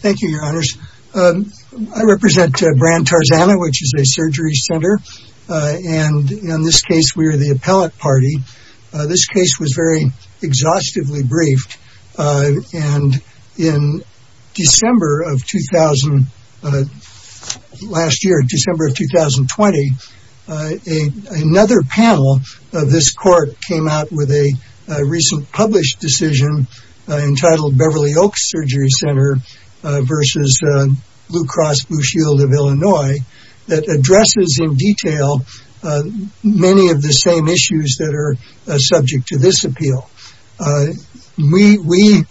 Thank you, your honors. I represent Brandt Tarzana, which is a surgery center. And in this case, we are the appellate party. This case was very exhaustively briefed. And in December of 2000, last year, December of 2020, another panel of this court came out with a recent published decision entitled Beverly Oaks Surgery Center v. Blue Cross Blue Shield of Illinois that addresses in detail many of the same issues that are subject to this appeal. We,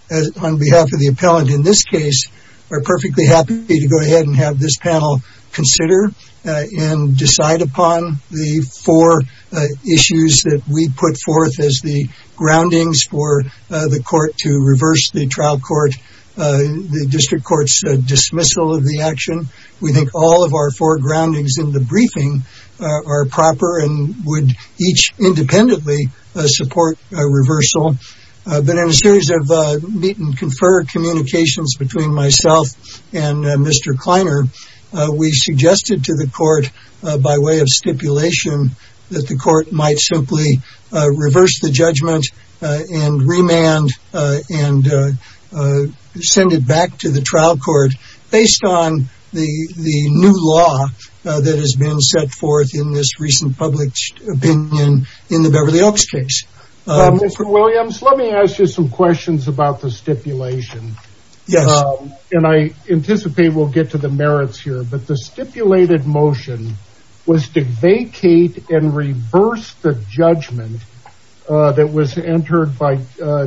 on behalf of the appellant in this case, are perfectly happy to go ahead and have this panel consider and decide upon the four issues that we put forth as the groundings for the court to reverse the trial court, the district court's dismissal of the action. We think all of our four groundings in the briefing are proper and would each independently support reversal. But in a series of meet and confer communications between myself and Mr. Kleiner, we suggested to the court by way of stipulation that the court might simply reverse the judgment and remand and send it back to the trial court based on the new law that has been set forth in this recent published opinion in the Beverly Oaks case. Mr. Williams, let me ask you some questions about the stipulation. And I anticipate we'll get to the merits here. But the stipulated motion was to vacate and reverse the judgment that was entered by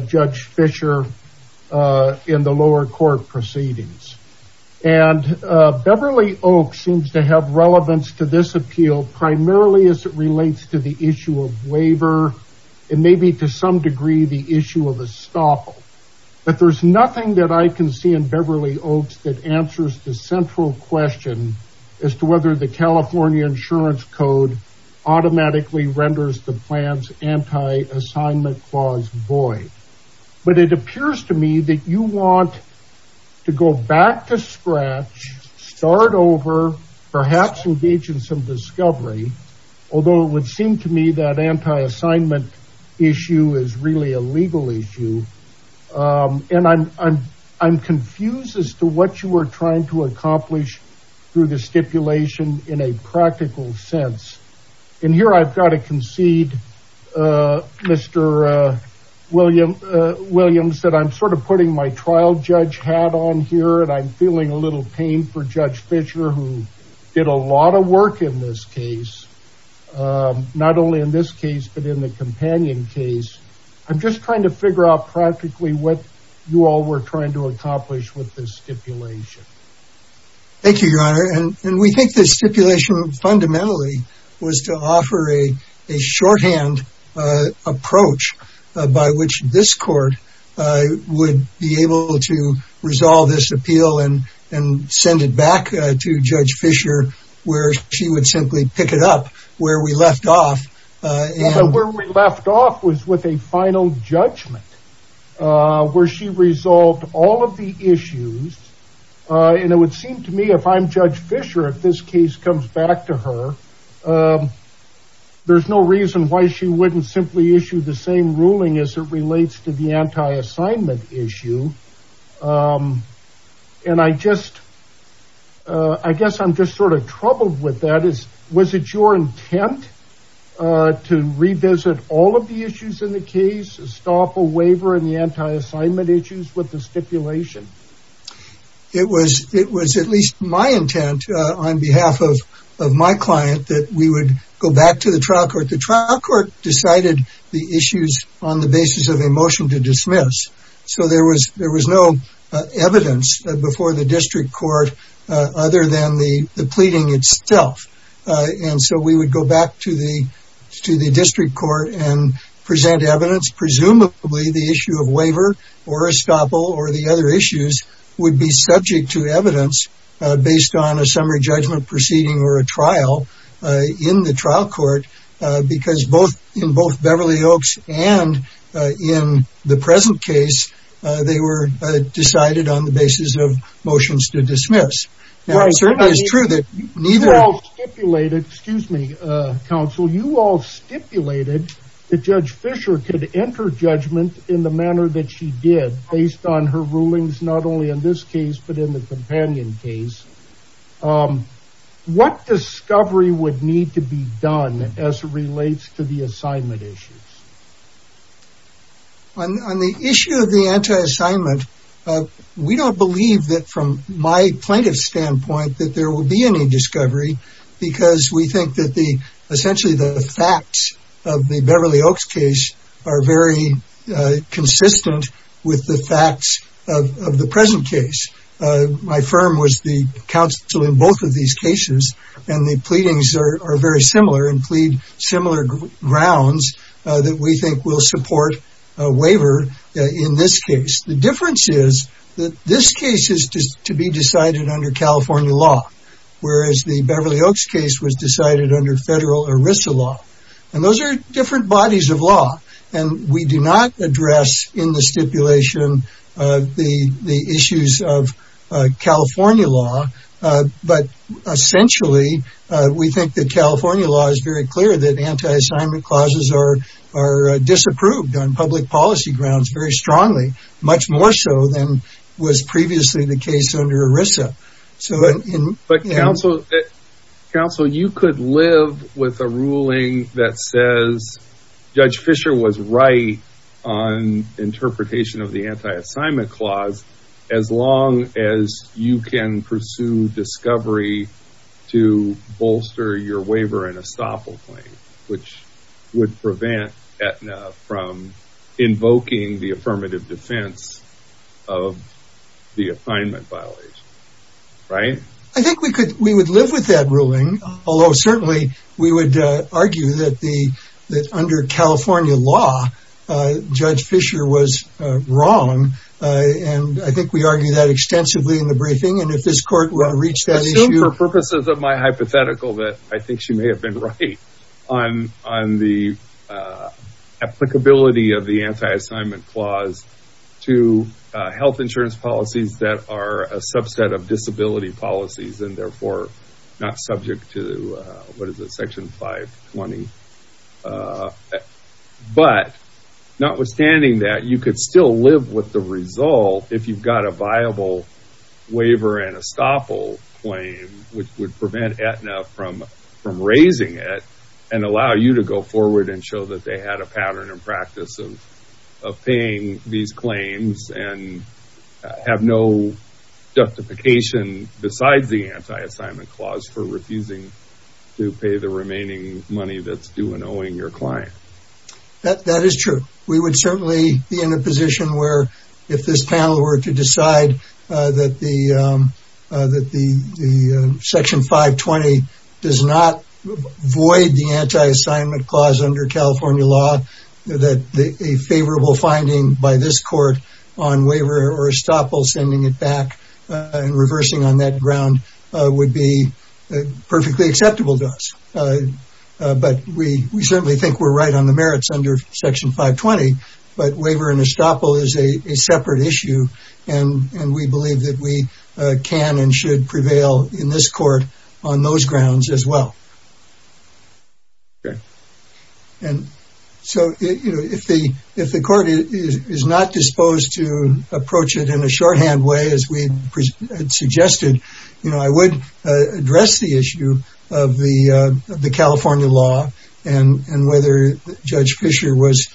Judge Fisher in the lower court proceedings. And Beverly Oaks seems to have relevance to this appeal primarily as it relates to the issue of waiver and maybe to some degree the issue of estoppel. But there's nothing that I can see in Beverly Oaks that answers the central question as to whether the California Insurance Code automatically renders the plan's anti-assignment clause void. But it appears to me that you want to go back to scratch, start over, perhaps engage in some discovery. Although it would seem to me that anti-assignment issue is really a legal issue. And I'm confused as to what you are trying to accomplish through the stipulation in a practical sense. And here I've got to concede, Mr. Williams, that I'm sort of putting my trial judge hat on here. And I'm feeling a little pain for Judge Fisher, who did a lot of work in this case. Not only in this case, but in the companion case. I'm just trying to figure out practically with this stipulation. Thank you, Your Honor. And we think this stipulation fundamentally was to offer a shorthand approach by which this court would be able to resolve this appeal and send it back to Judge Fisher, where she would simply pick it up where we left off. Where we left off was with a final judgment, where she resolved all of the issues. And it would seem to me, if I'm Judge Fisher, if this case comes back to her, there's no reason why she wouldn't simply issue the same ruling as it relates to the anti-assignment issue. And I guess I'm just sort of troubled with that. Was it your intent to revisit all of the issues in the case, stop a waiver in the anti-assignment issues with the stipulation? It was at least my intent on behalf of my client that we would go back to the trial court. The trial court decided the issues on the basis of a motion to dismiss. So there was no evidence before the district court other than the pleading itself. And so we would go back to the district court and present evidence, presumably the issue of waiver or estoppel or the other issues would be subject to evidence based on a summary judgment proceeding or a trial in the trial court. Because in both Beverly Oaks and in the present case, they were decided on the basis of motions to dismiss. Now, it certainly is true that neither of those stipulated, excuse me, counsel, you all stipulated that Judge Fisher could enter judgment in the manner that she did based on her rulings, not only in this case, but in the companion case. What discovery would need to be done as it relates to the assignment issues? On the issue of the anti-assignment, we don't believe that from my plaintiff's standpoint that there will be any discovery because we think that the essentially the facts of the Beverly Oaks case are very consistent with the facts of the present case. My firm was the counsel in both of these cases and the pleadings are very similar and plead similar grounds that we think will support a waiver in this case. The difference is that this case is to be decided under California law, whereas the Beverly Oaks case was decided under federal ERISA law. And those are different bodies of law. And we do not address in the stipulation the issues of California law, but essentially we think that California law is very clear that anti-assignment clauses are disapproved on public policy grounds very strongly, much more so than was previously the case under ERISA. But counsel, you could live with a ruling that says Judge Fischer was right on interpretation of the anti-assignment clause, as long as you can pursue discovery to bolster your waiver and estoppel claim, which would prevent Aetna from invoking the affirmative defense of the assignment violation, right? I think we would live with that ruling, although certainly we would argue that under California law, Judge Fischer was wrong. And I think we argue that extensively in the briefing. And if this court will reach that issue- I assume for purposes of my hypothetical that I think she may have been right on the applicability of the anti-assignment clause to health insurance policies that are a subset of disability policies and therefore not subject to, what is it? Section 520. But notwithstanding that, you could still live with the result if you've got a viable waiver and estoppel claim, which would prevent Aetna from raising it. And allow you to go forward and show that they had a pattern and practice of paying these claims and have no justification besides the anti-assignment clause for refusing to pay the remaining money that's due in owing your client. That is true. We would certainly be in a position where if this panel were to decide that the Section 520 does not void the anti-assignment clause under California law, that a favorable finding by this court on waiver or estoppel sending it back and reversing on that ground would be perfectly acceptable to us. But we certainly think we're right on the merits under Section 520, but waiver and estoppel is a separate issue. And we believe that we can and should prevail in this court on those grounds as well. And so if the court is not disposed to approach it in a shorthand way, as we had suggested, I would address the issue of the California law and whether Judge Fischer was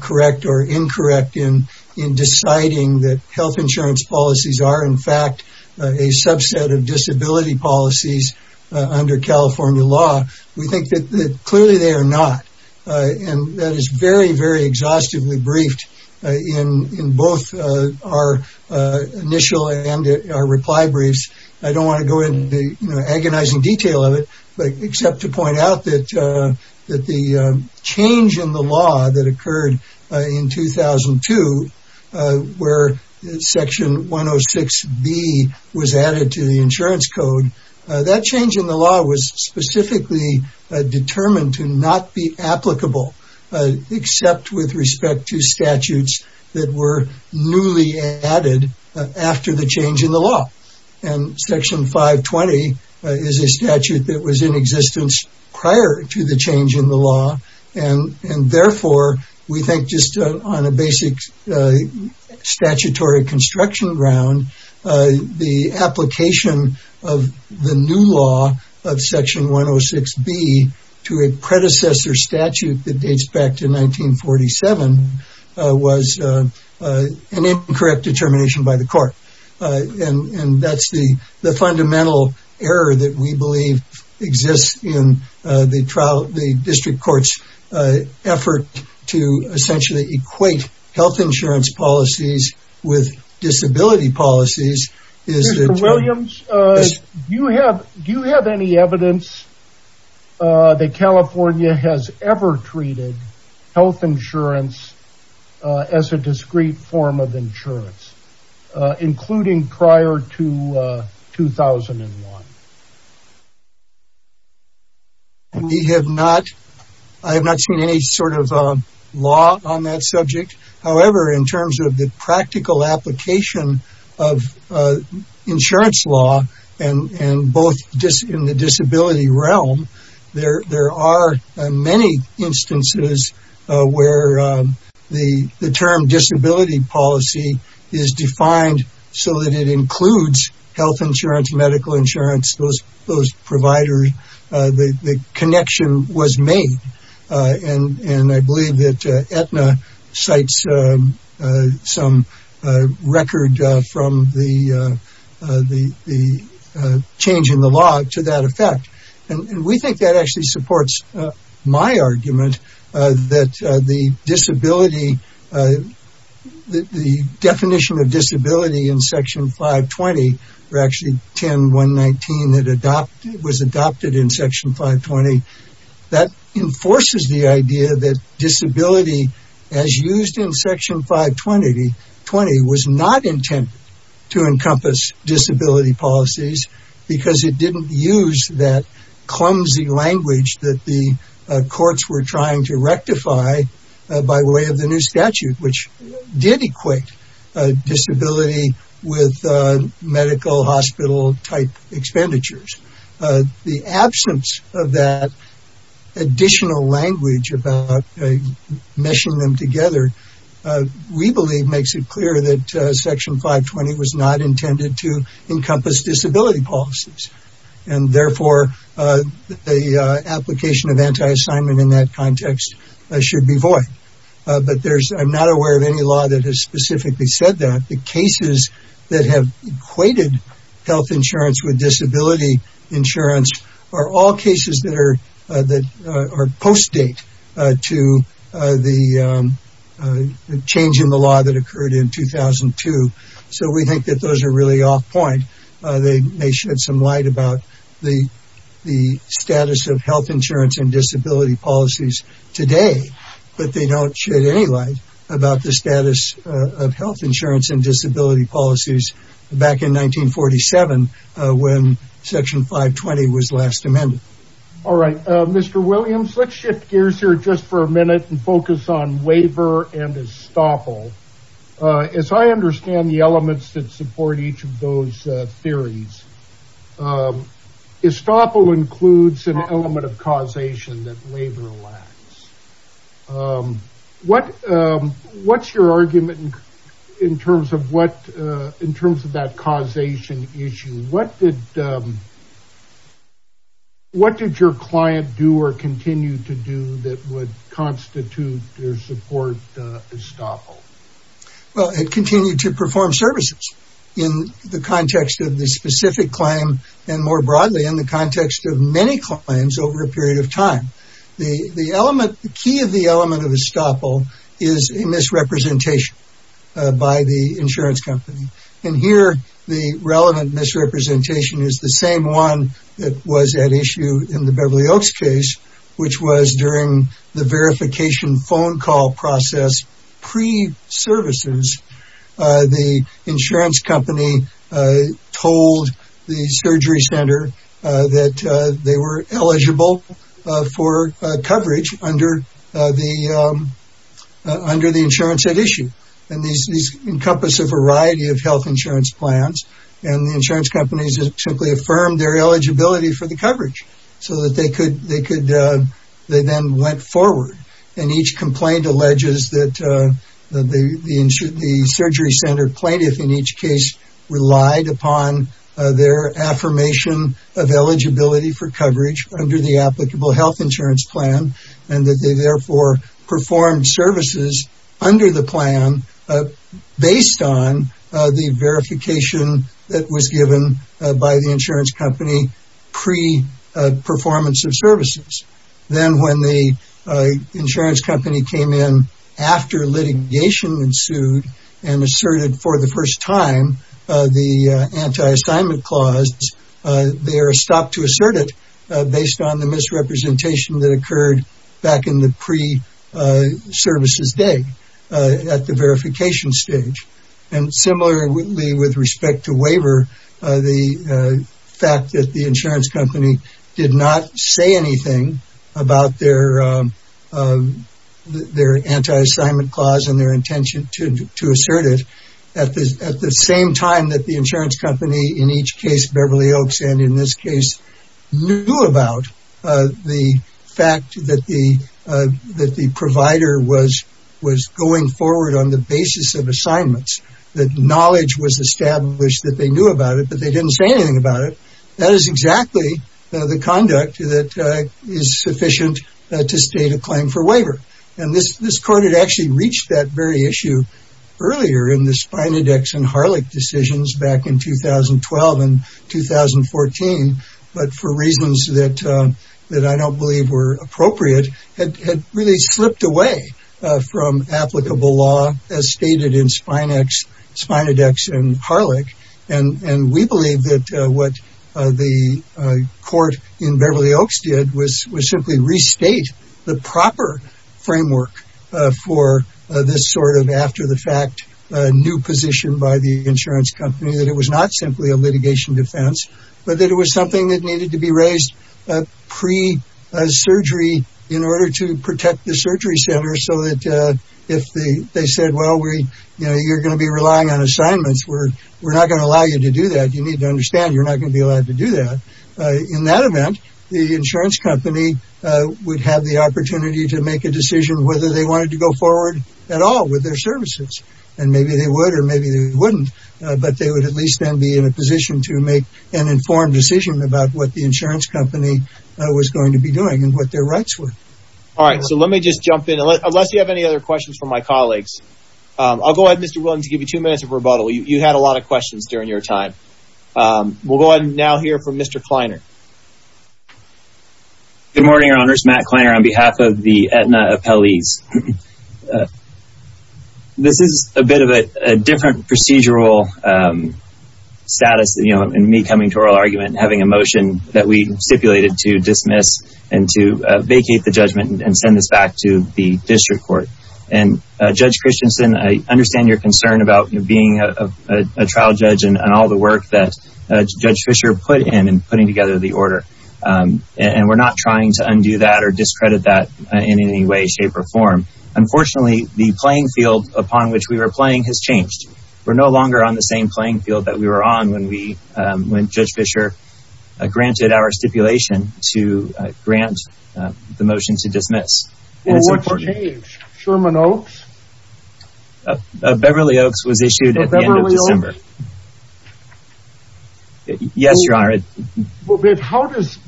correct or incorrect in deciding that health insurance policies are in fact a subset of disability policies under California law. We think that clearly they are not. And that is very, very exhaustively briefed in both our initial and our reply briefs. I don't wanna go into the agonizing detail of it, but except to point out that the change in the law that occurred in 2002, where Section 106B was added to the insurance code, that change in the law was specifically determined to not be applicable, except with respect to statutes that were newly added after the change in the law. And Section 520 is a statute that was in existence prior to the change in the law. And therefore, we think just on a basic statutory construction ground, the application of the new law of Section 106B to a predecessor statute that dates back to 1947 was an incorrect determination by the court. And that's the fundamental error that we believe exists in the district court's effort to essentially equate health insurance policies with disability policies is that- Mr. Williams, do you have any evidence that California has ever treated health insurance as a discrete form of insurance, including prior to 2001? I have not seen any sort of law on that subject. However, in terms of the practical application of insurance law and both in the disability realm, there are many instances where the term disability policy is defined so that it includes health insurance, medical insurance, those providers, the connection was made. And I believe that Aetna cites some record from the change in the law to that effect. And we think that actually supports my argument that the definition of disability in Section 520 or actually 10.119 that was adopted in Section 520, that enforces the idea that disability as used in Section 520 was not intended to encompass disability policies because it didn't use that clumsy language that the courts were trying to rectify by way of the new statute, which did equate disability with medical hospital type expenditures. The absence of that additional language about meshing them together, we believe makes it clear that Section 520 was not intended to encompass disability policies. And therefore, the application of anti-assignment in that context should be void. But I'm not aware of any law that has specifically said that. The cases that have equated health insurance with disability insurance are all cases that are post-date to the change in the law that occurred in 2002. So we think that those are really off point. They may shed some light about the status of health insurance and disability policies today, but they don't shed any light about the status of health insurance and disability policies back in 1947 when Section 520 was last amended. All right, Mr. Williams, let's shift gears here just for a minute and focus on waiver and estoppel. As I understand the elements that support each of those theories, estoppel includes an element of causation that labor lacks. What's your argument in terms of that causation issue? What did your client do or continue to do that would constitute their support estoppel? Well, it continued to perform services in the context of the specific claim and more broadly in the context of many claims over a period of time. The key of the element of estoppel is a misrepresentation by the insurance company. And here the relevant misrepresentation is the same one that was at issue in the Beverly Oaks case, which was during the verification phone call process pre-services, the insurance company told the surgery center that they were eligible for coverage under the insurance at issue. And these encompass a variety of health insurance plans and the insurance companies simply affirmed their eligibility for the coverage so that they then went forward. And each complaint alleges that the surgery center plaintiff in each case relied upon their affirmation of eligibility for coverage under the applicable health insurance plan and that they therefore performed services under the plan based on the verification that was given by the insurance company pre-performance of services. Then when the insurance company came in after litigation ensued and asserted for the first time the anti-assignment clause, they are stopped to assert it based on the misrepresentation that occurred back in the pre-services day at the verification stage. And similarly with respect to waiver, the fact that the insurance company did not say anything about their anti-assignment clause and their intention to assert it at the same time that the insurance company in each case Beverly Oaks and in this case knew about the fact that the provider was going forward on the basis of assignments, that knowledge was established that they knew about it, but they didn't say anything about it. That is exactly the conduct that is sufficient to state a claim for waiver. And this court had actually reached that very issue earlier in the Spina Dex and Harlech decisions back in 2012 and 2014, but for reasons that I don't believe were appropriate had really slipped away from applicable law as stated in Spina Dex and Harlech. And we believe that what the court in Beverly Oaks did was simply restate the proper framework for this sort of after the fact new position by the insurance company, that it was not simply a litigation defense, but that it was something that needed to be raised pre-surgery in order to protect the surgery center so that if they said, well, you're gonna be relying on assignments, we're not gonna allow you to do that, you need to understand you're not gonna be allowed to do that. In that event, the insurance company would have the opportunity to make a decision whether they wanted to go forward at all with their services and maybe they would, or maybe they wouldn't, but they would at least then be in a position to make an informed decision about what the insurance company was going to be doing and what their rights were. All right, so let me just jump in. Unless you have any other questions from my colleagues, I'll go ahead, Mr. Williams, give you two minutes of rebuttal. You had a lot of questions during your time. We'll go ahead and now hear from Mr. Kleiner. Good morning, Your Honors. Matt Kleiner on behalf of the Aetna Appellees. This is a bit of a different procedural status in me coming to oral argument and having a motion that we stipulated to dismiss and to vacate the judgment and send this back to the district court. And Judge Christensen, I understand your concern about being a trial judge and all the work that Judge Fischer put in and putting together the order. And we're not trying to undo that or discredit that in any way, shape or form. Unfortunately, the playing field upon which we were playing has changed. We're no longer on the same playing field that we were on when Judge Fischer granted our stipulation to grant the motion to dismiss. And it's important. Well, what's changed? Sherman Oaks? Beverly Oaks was issued at the end of December. Oh, Beverly Oaks? Yes, Your Honor. Well, but how does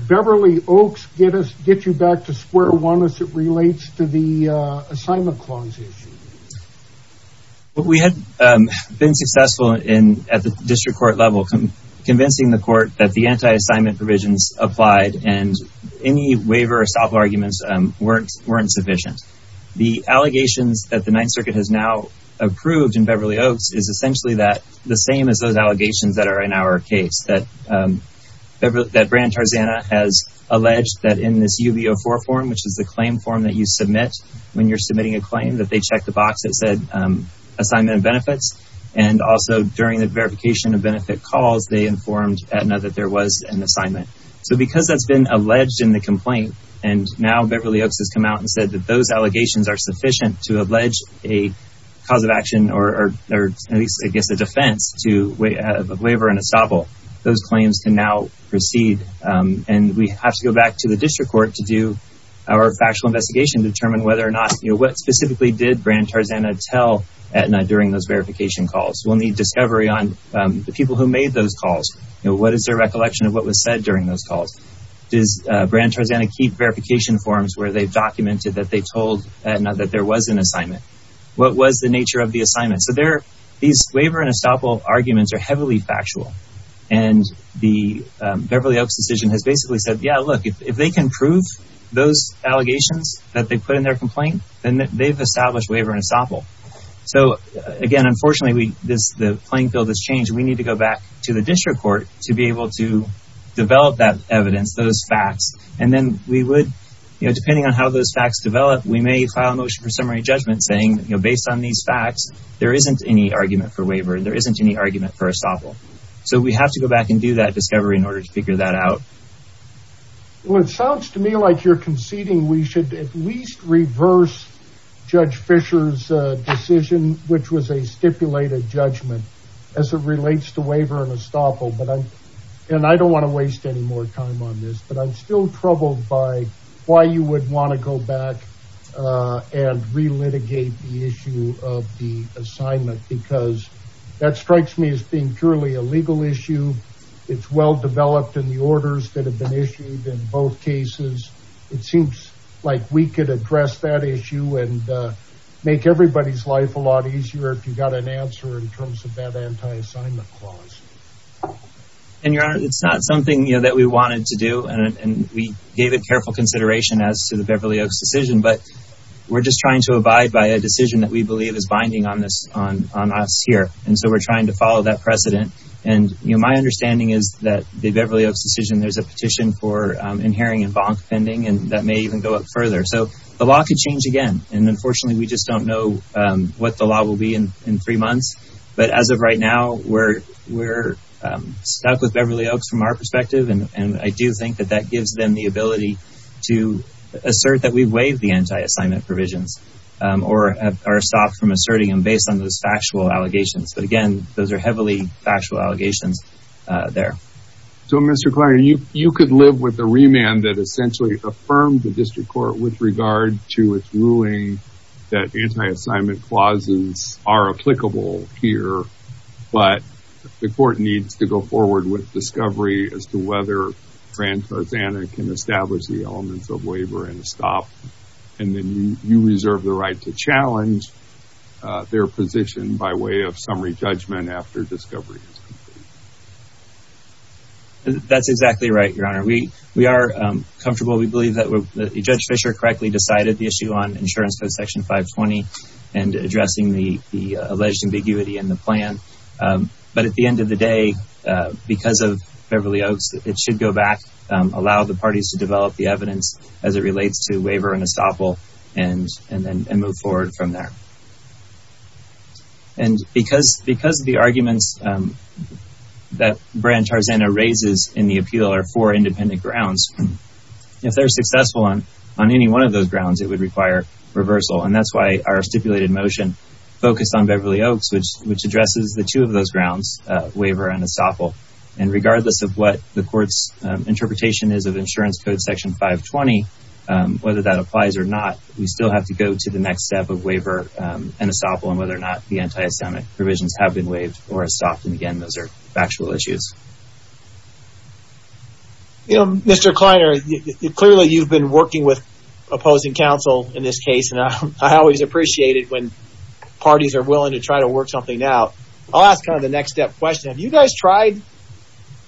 Beverly Oaks get you back to square one as it relates to the assignment clause issue? Well, we had been successful at the district court level convincing the court that the anti-assignment provisions applied and any waiver or stop arguments weren't sufficient. The allegations that the Ninth Circuit has now approved in Beverly Oaks is essentially the same as those allegations that are in our case, that Brandon Tarzana has alleged that in this UB04 form, which is the claim form that you submit when you're submitting a claim, that they checked the box that said assignment of benefits. And also during the verification of benefit calls, they informed Aetna that there was an assignment. So because that's been alleged in the complaint and now Beverly Oaks has come out and said that those allegations are sufficient to allege a cause of action, or at least, I guess, a defense of waiver and estoppel, those claims can now proceed. And we have to go back to the district court to do our factual investigation to determine whether or not, what specifically did Brandon Tarzana tell Aetna during those verification calls? We'll need discovery on the people who made those calls. What is their recollection of what was said during those calls? Does Brandon Tarzana keep verification forms where they've documented that they told Aetna that there was an assignment? What was the nature of the assignment? So these waiver and estoppel arguments are heavily factual. And the Beverly Oaks decision has basically said, yeah, look, if they can prove those allegations that they put in their complaint, then they've established waiver and estoppel. So again, unfortunately, the playing field has changed. We need to go back to the district court to be able to develop that evidence, those facts. And then we would, depending on how those facts develop, we may file a motion for summary judgment saying, based on these facts, there isn't any argument for waiver. There isn't any argument for estoppel. So we have to go back and do that discovery in order to figure that out. Well, it sounds to me like you're conceding we should at least reverse Judge Fisher's decision, which was a stipulated judgment as it relates to waiver and estoppel. And I don't want to waste any more time on this, but I'm still troubled by why you would want to go back and relitigate the issue of the assignment, because that strikes me as being purely a legal issue. It's well-developed in the orders that have been issued in both cases. It seems like we could address that issue and make everybody's life a lot easier if you got an answer in terms of that anti-assignment clause. And Your Honor, it's not something that we wanted to do. We gave it careful consideration as to the Beverly Oaks decision, but we're just trying to abide by a decision that we believe is binding on us here. And so we're trying to follow that precedent. And my understanding is that the Beverly Oaks decision, there's a petition for inhering and bonk pending, and that may even go up further. So the law could change again. And unfortunately, we just don't know what the law will be in three months. But as of right now, we're stuck with Beverly Oaks from our perspective. And I do think that that gives them the ability to assert that we waive the anti-assignment provisions or are stopped from asserting them based on those factual allegations. But again, those are heavily factual allegations there. So Mr. Kleiner, you could live with the remand that essentially affirmed the district court with regard to its ruling that anti-assignment clauses are applicable here, but the court needs to go forward with discovery as to whether Fran Tarzana can establish the elements of waiver and stop. And then you reserve the right to challenge their position by way of summary judgment after discovery is complete. That's exactly right, Your Honor. We are comfortable. We believe that Judge Fischer correctly decided the issue on insurance code section 520 and addressing the alleged ambiguity in the plan. But at the end of the day, because of Beverly Oaks, it should go back, allow the parties to develop the evidence as it relates to waiver and estoppel and then move forward from there. And because the arguments that Fran Tarzana raises in the appeal are for independent grounds, if they're successful on any one of those grounds, it would require reversal. And that's why our stipulated motion focused on Beverly Oaks, which addresses the two of those grounds, waiver and estoppel. And regardless of what the court's interpretation is of insurance code section 520, whether that applies or not, we still have to go to the next step of waiver and estoppel and whether or not the anti-Semitic provisions have been waived or estopped. And again, those are factual issues. Mr. Kleiner, clearly you've been working with opposing counsel in this case. And I always appreciate it when parties are willing to try to work something out. I'll ask kind of the next step question. Have you guys tried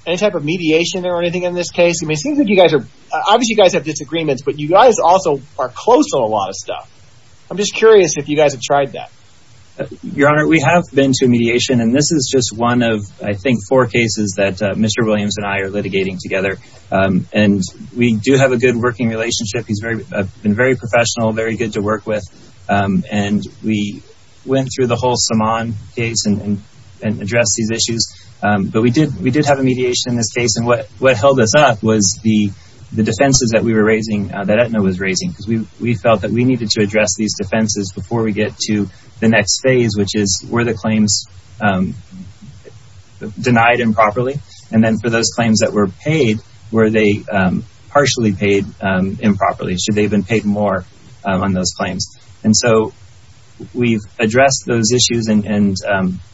any type of mediation or anything in this case? I mean, it seems like you guys are, obviously you guys have disagreements, but you guys also are close on a lot of stuff. I'm just curious if you guys have tried that. Your Honor, we have been to mediation and this is just one of, I think, four cases that Mr. Williams and I are litigating together. And we do have a good working relationship. He's been very professional, very good to work with. And we went through the whole Saman case and addressed these issues. But we did have a mediation in this case. And what held us up was the defenses that we were raising, that Aetna was raising. Because we felt that we needed to address these defenses before we get to the next phase, which is, were the claims denied improperly? And then for those claims that were paid, were they partially paid improperly? Or should they have been paid more on those claims? And so we've addressed those issues. And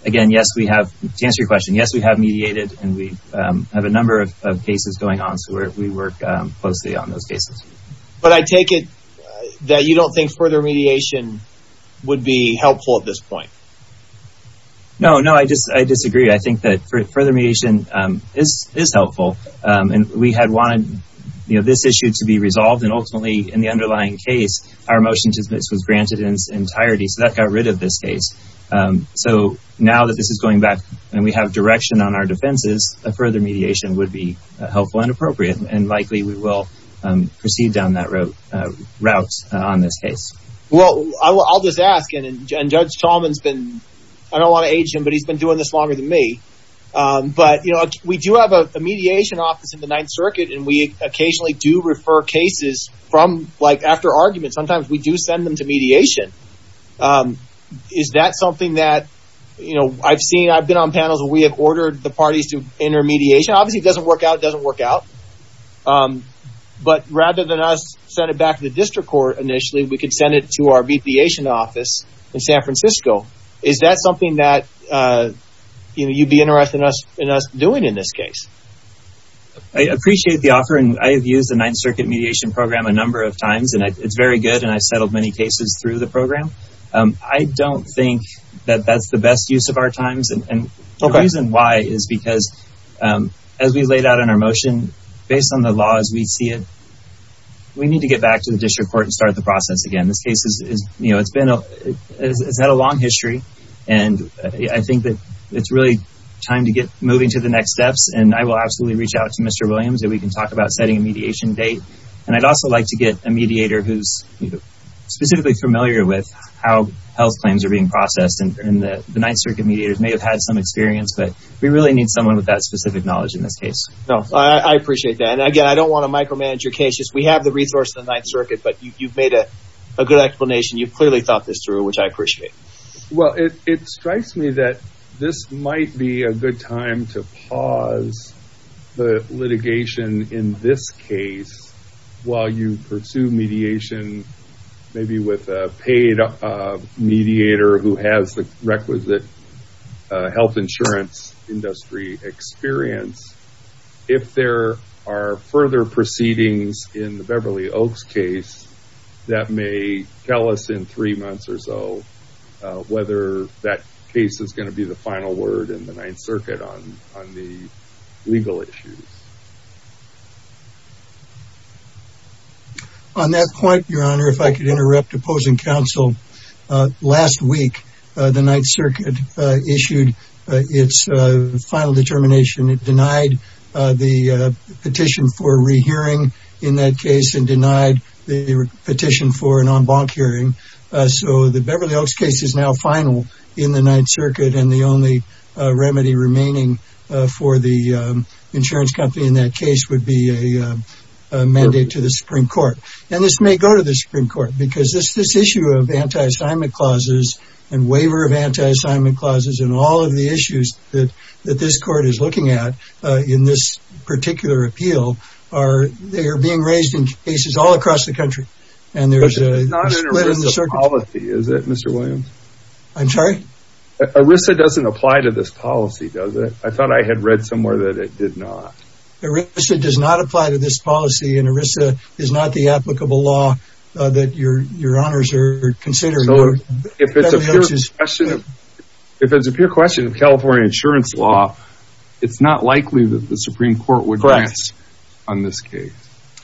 again, yes, we have, to answer your question, yes, we have mediated and we have a number of cases going on, so we work closely on those cases. But I take it that you don't think further mediation would be helpful at this point. No, no, I disagree. I think that further mediation is helpful. And we had wanted this issue to be resolved and ultimately in the underlying case, our motion to dismiss was granted in its entirety. So that got rid of this case. So now that this is going back and we have direction on our defenses, a further mediation would be helpful and appropriate. And likely we will proceed down that route on this case. Well, I'll just ask, and Judge Talman's been, I don't wanna age him, but he's been doing this longer than me. But we do have a mediation office in the Ninth Circuit and we occasionally do refer cases from, like after arguments, sometimes we do send them to mediation. Is that something that, you know, I've seen, I've been on panels where we have ordered the parties to enter mediation, obviously it doesn't work out, it doesn't work out. But rather than us send it back to the district court initially, we could send it to our mediation office in San Francisco. Is that something that, you know, you'd be interested in us doing in this case? I appreciate the offer and I have used the Ninth Circuit mediation program a number of times and it's very good and I've settled many cases through the program. I don't think that that's the best use of our times. And the reason why is because as we laid out in our motion, based on the laws, we see it, we need to get back to the district court and start the process again. This case has had a long history and I think that it's really time to get moving to the next steps. And I will absolutely reach out to Mr. Williams and we can talk about setting a mediation date. And I'd also like to get a mediator who's specifically familiar with how health claims are being processed. And the Ninth Circuit mediators may have had some experience, but we really need someone with that specific knowledge in this case. No, I appreciate that. And again, I don't want to micromanage your case, just we have the resource in the Ninth Circuit, but you've made a good explanation. You've clearly thought this through, which I appreciate. Well, it strikes me that this might be a good time to pause the litigation in this case, while you pursue mediation, maybe with a paid mediator who has the requisite health insurance industry experience. If there are further proceedings in the Beverly Oaks case, that may tell us in three months or so, whether that case is going to be the final word in the Ninth Circuit on the legal issues. On that point, Your Honor, if I could interrupt opposing counsel. Last week, the Ninth Circuit issued its final determination. It denied the petition for rehearing in that case and denied the petition for an en banc hearing. So the Beverly Oaks case is now final in the Ninth Circuit and the only remedy remaining for the insurance company in that case would be a mandate to the Supreme Court. And this may go to the Supreme Court because this issue of anti-assignment clauses and waiver of anti-assignment clauses and all of the issues that this court is looking at in this particular appeal, are they are being raised in cases all across the country. And there's a split in the circuit. But it's not an illicit policy, is it, Mr. Williams? I'm sorry? ERISA doesn't apply to this policy, does it? I thought I had read somewhere that it did not. ERISA does not apply to this policy and ERISA is not the applicable law that Your Honors are considering. If it's a pure question of California insurance law, it's not likely that the Supreme Court would pass on this case.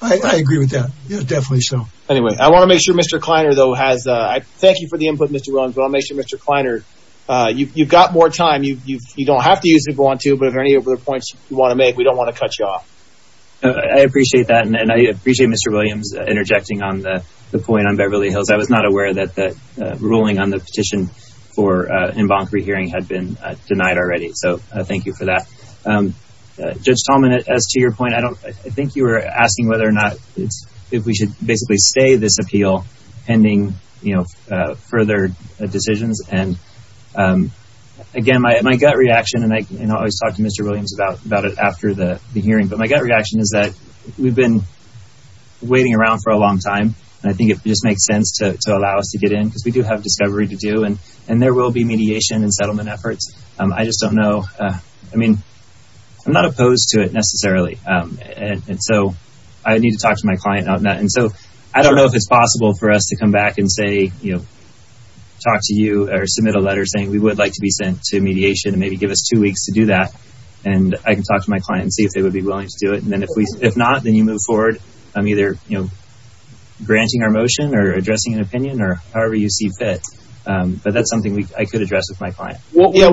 I agree with that. Yeah, definitely so. Anyway, I want to make sure Mr. Kleiner though has, thank you for the input, Mr. Williams, but I want to make sure Mr. Kleiner, you've got more time. You don't have to use it if you want to, but if there are any other points you want to make, we don't want to cut you off. I appreciate that. And I appreciate Mr. Williams interjecting on the point on Beverly Hills. I was not aware that the ruling on the petition for en banc rehearing had been denied already. So thank you for that. Judge Tallman, as to your point, I think you were asking whether or not if we should basically stay this appeal pending further decisions. And again, my gut reaction, and I always talk to Mr. Williams about it after the hearing, but my gut reaction is that we've been waiting around for a long time. And I think it just makes sense to allow us to get in because we do have discovery to do and there will be mediation and settlement efforts. I just don't know. I mean, I'm not opposed to it necessarily. And so I need to talk to my client on that. And so I don't know if it's possible for us to come back and say, you know, talk to you or submit a letter saying we would like to be sent to mediation and maybe give us two weeks to do that. And I can talk to my client and see if they would be willing to do it. And then if not, then you move forward. I'm either, you know, granting our motion or addressing an opinion or however you see fit. But that's something I could address with my client. What we would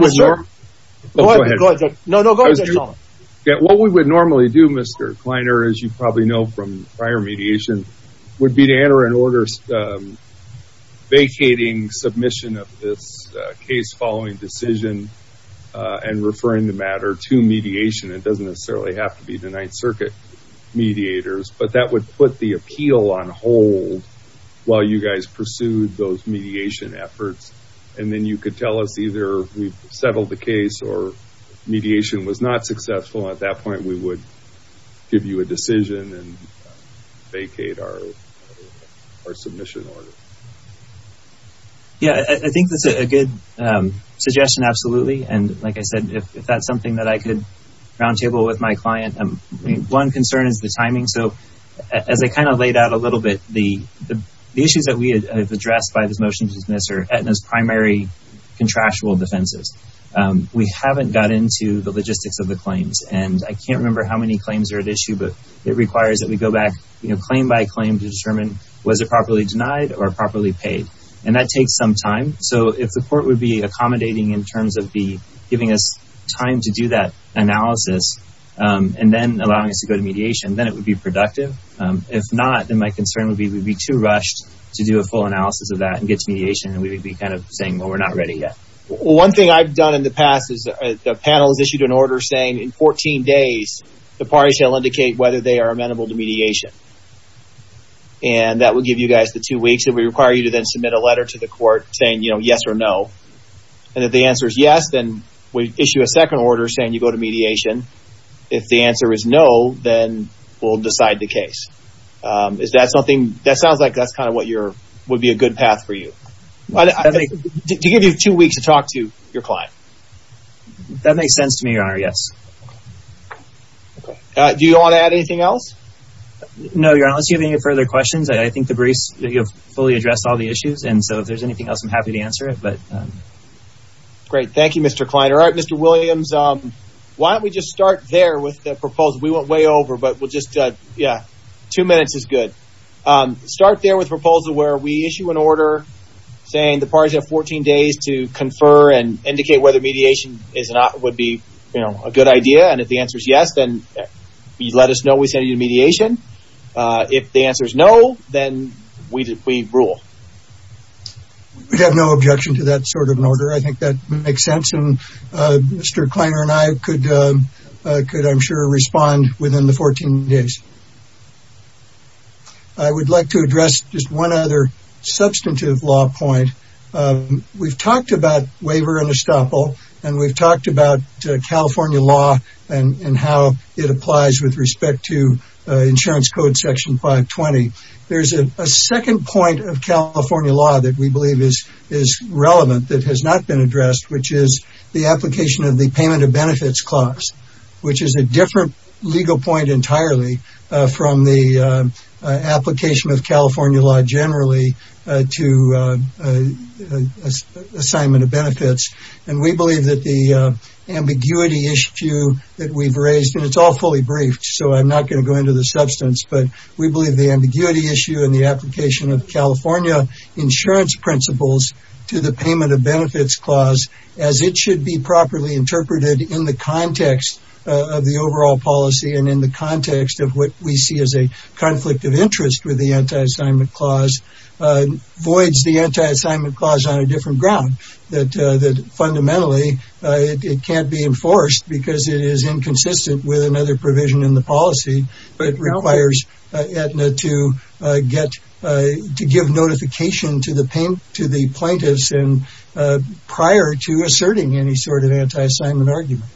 normally do, Mr. Kleiner, as you probably know from prior mediation, would be to enter an order vacating submission of this case following decision and referring the matter to mediation. It doesn't necessarily have to be the Ninth Circuit mediators, but that would put the appeal on hold while you guys pursued those mediation efforts. And then you could tell us either we've settled the case or mediation was not successful. At that point, we would give you a decision and vacate our submission order. Yeah, I think that's a good suggestion, absolutely. And like I said, if that's something that I could round table with my client, one concern is the timing. So as I kind of laid out a little bit, the issues that we have addressed by this motion to dismiss are Aetna's primary contractual defenses. We haven't got into the logistics of the claims and I can't remember how many claims are at issue, but it requires that we go back claim by claim to determine was it properly denied or properly paid. And that takes some time. So if the court would be accommodating in terms of giving us time to do that analysis and then allowing us to go to mediation, then it would be productive. If not, then my concern would be we'd be too rushed to do a full analysis of that and get to mediation. And we would be kind of saying, well, we're not ready yet. One thing I've done in the past is the panel has issued an order saying in 14 days, the parties shall indicate whether they are amenable to mediation. And that would give you guys the two weeks that we require you to then submit a letter to the court saying, yes or no. And if the answer is yes, then we issue a second order saying you go to mediation. If the answer is no, then we'll decide the case. Is that something that sounds like that's kind of what would be a good path for you? To give you two weeks to talk to your client. That makes sense to me, Your Honor, yes. Do you want to add anything else? No, Your Honor, unless you have any further questions, I think the briefs, you've fully addressed all the issues. And so if there's anything else, I'm happy to answer it. Great, thank you, Mr. Kleiner. All right, Mr. Williams, why don't we just start there with the proposal? We went way over, but we'll just, yeah, two minutes is good. Start there with proposal where we issue an order saying the parties have 14 days to confer and indicate whether mediation is not, would be a good idea. And if the answer is yes, then you let us know we send you to mediation. If the answer is no, then we rule. We have no objection to that sort of an order. I think that makes sense. And Mr. Kleiner and I could, I'm sure, respond within the 14 days. I would like to address just one other substantive law point. We've talked about waiver and estoppel, and we've talked about California law and how it applies with respect to insurance code section 520. There's a second point of California law that we believe is relevant that has not been addressed, which is the application of the payment of benefits clause, which is a different legal point entirely from the application of California law generally to assignment of benefits. And we believe that the ambiguity issue that we've raised, and it's all fully briefed, so I'm not gonna go into the substance, but we believe the ambiguity issue and the application of California insurance principles to the payment of benefits clause as it should be properly interpreted in the context of the overall policy and in the context of what we see as a conflict of interest with the anti-assignment clause voids the anti-assignment clause on a different ground, that fundamentally it can't be enforced because it is inconsistent with another provision in the policy, but it requires Aetna to give notification to the plaintiffs prior to asserting any sort of anti-assignment argument.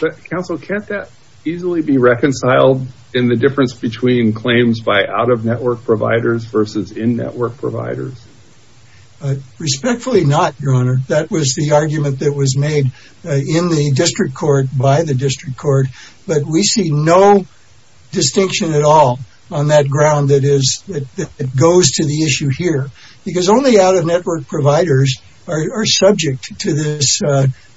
But counsel, can't that easily be reconciled in the difference between claims by out-of-network providers versus in-network providers? Respectfully not, Your Honor. That was the argument that was made in the district court by the district court, but we see no distinction at all on that ground that goes to the issue here because only out-of-network providers are subject to this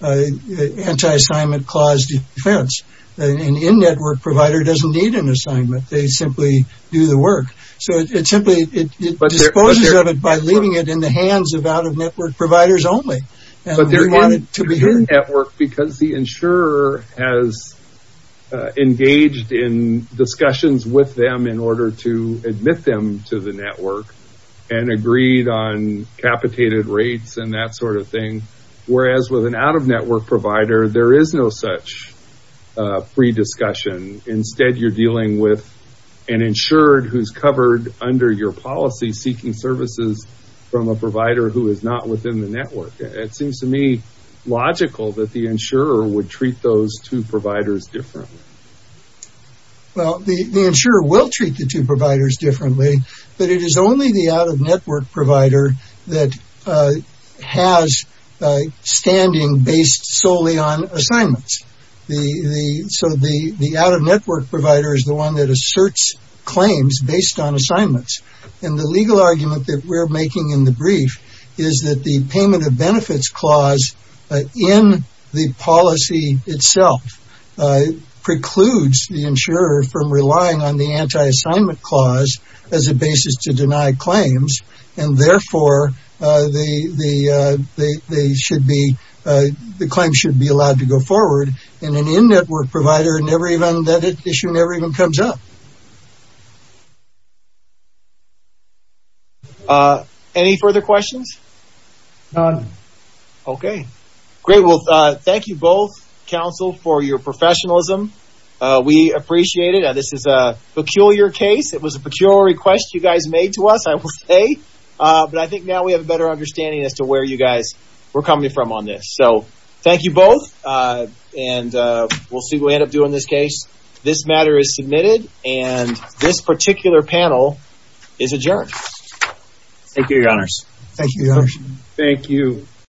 anti-assignment clause defense. An in-network provider doesn't need an assignment. They simply do the work. So it simply, it disposes of it by leaving it in the hands of out-of-network providers only. And we want it to be heard. Because the insurer has engaged in discussions with them in order to admit them to the network and agreed on capitated rates and that sort of thing. Whereas with an out-of-network provider, there is no such pre-discussion. Instead, you're dealing with an insured who's covered under your policy, seeking services from a provider who is not within the network. It seems to me logical that the insurer would treat those two providers differently. Well, the insurer will treat the two providers differently, but it is only the out-of-network provider that has standing based solely on assignments. The, so the out-of-network provider is the one that asserts claims based on assignments. And the legal argument that we're making in the brief is that the payment of benefits clause in the policy itself precludes the insurer from relying on the anti-assignment clause as a basis to deny claims. And therefore, they should be, the claim should be allowed to go forward. And an in-network provider never even, that issue never even comes up. Any further questions? Okay, great. Well, thank you both, counsel, for your professionalism. We appreciate it. This is a peculiar case. It was a peculiar request you guys made to us, I will say. But I think now we have a better understanding as to where you guys were coming from on this. So thank you both. And we'll see what we end up doing in this case. This matter is submitted, and this particular panel is adjourned. Thank you, your honors. Thank you, your honor. Thank you.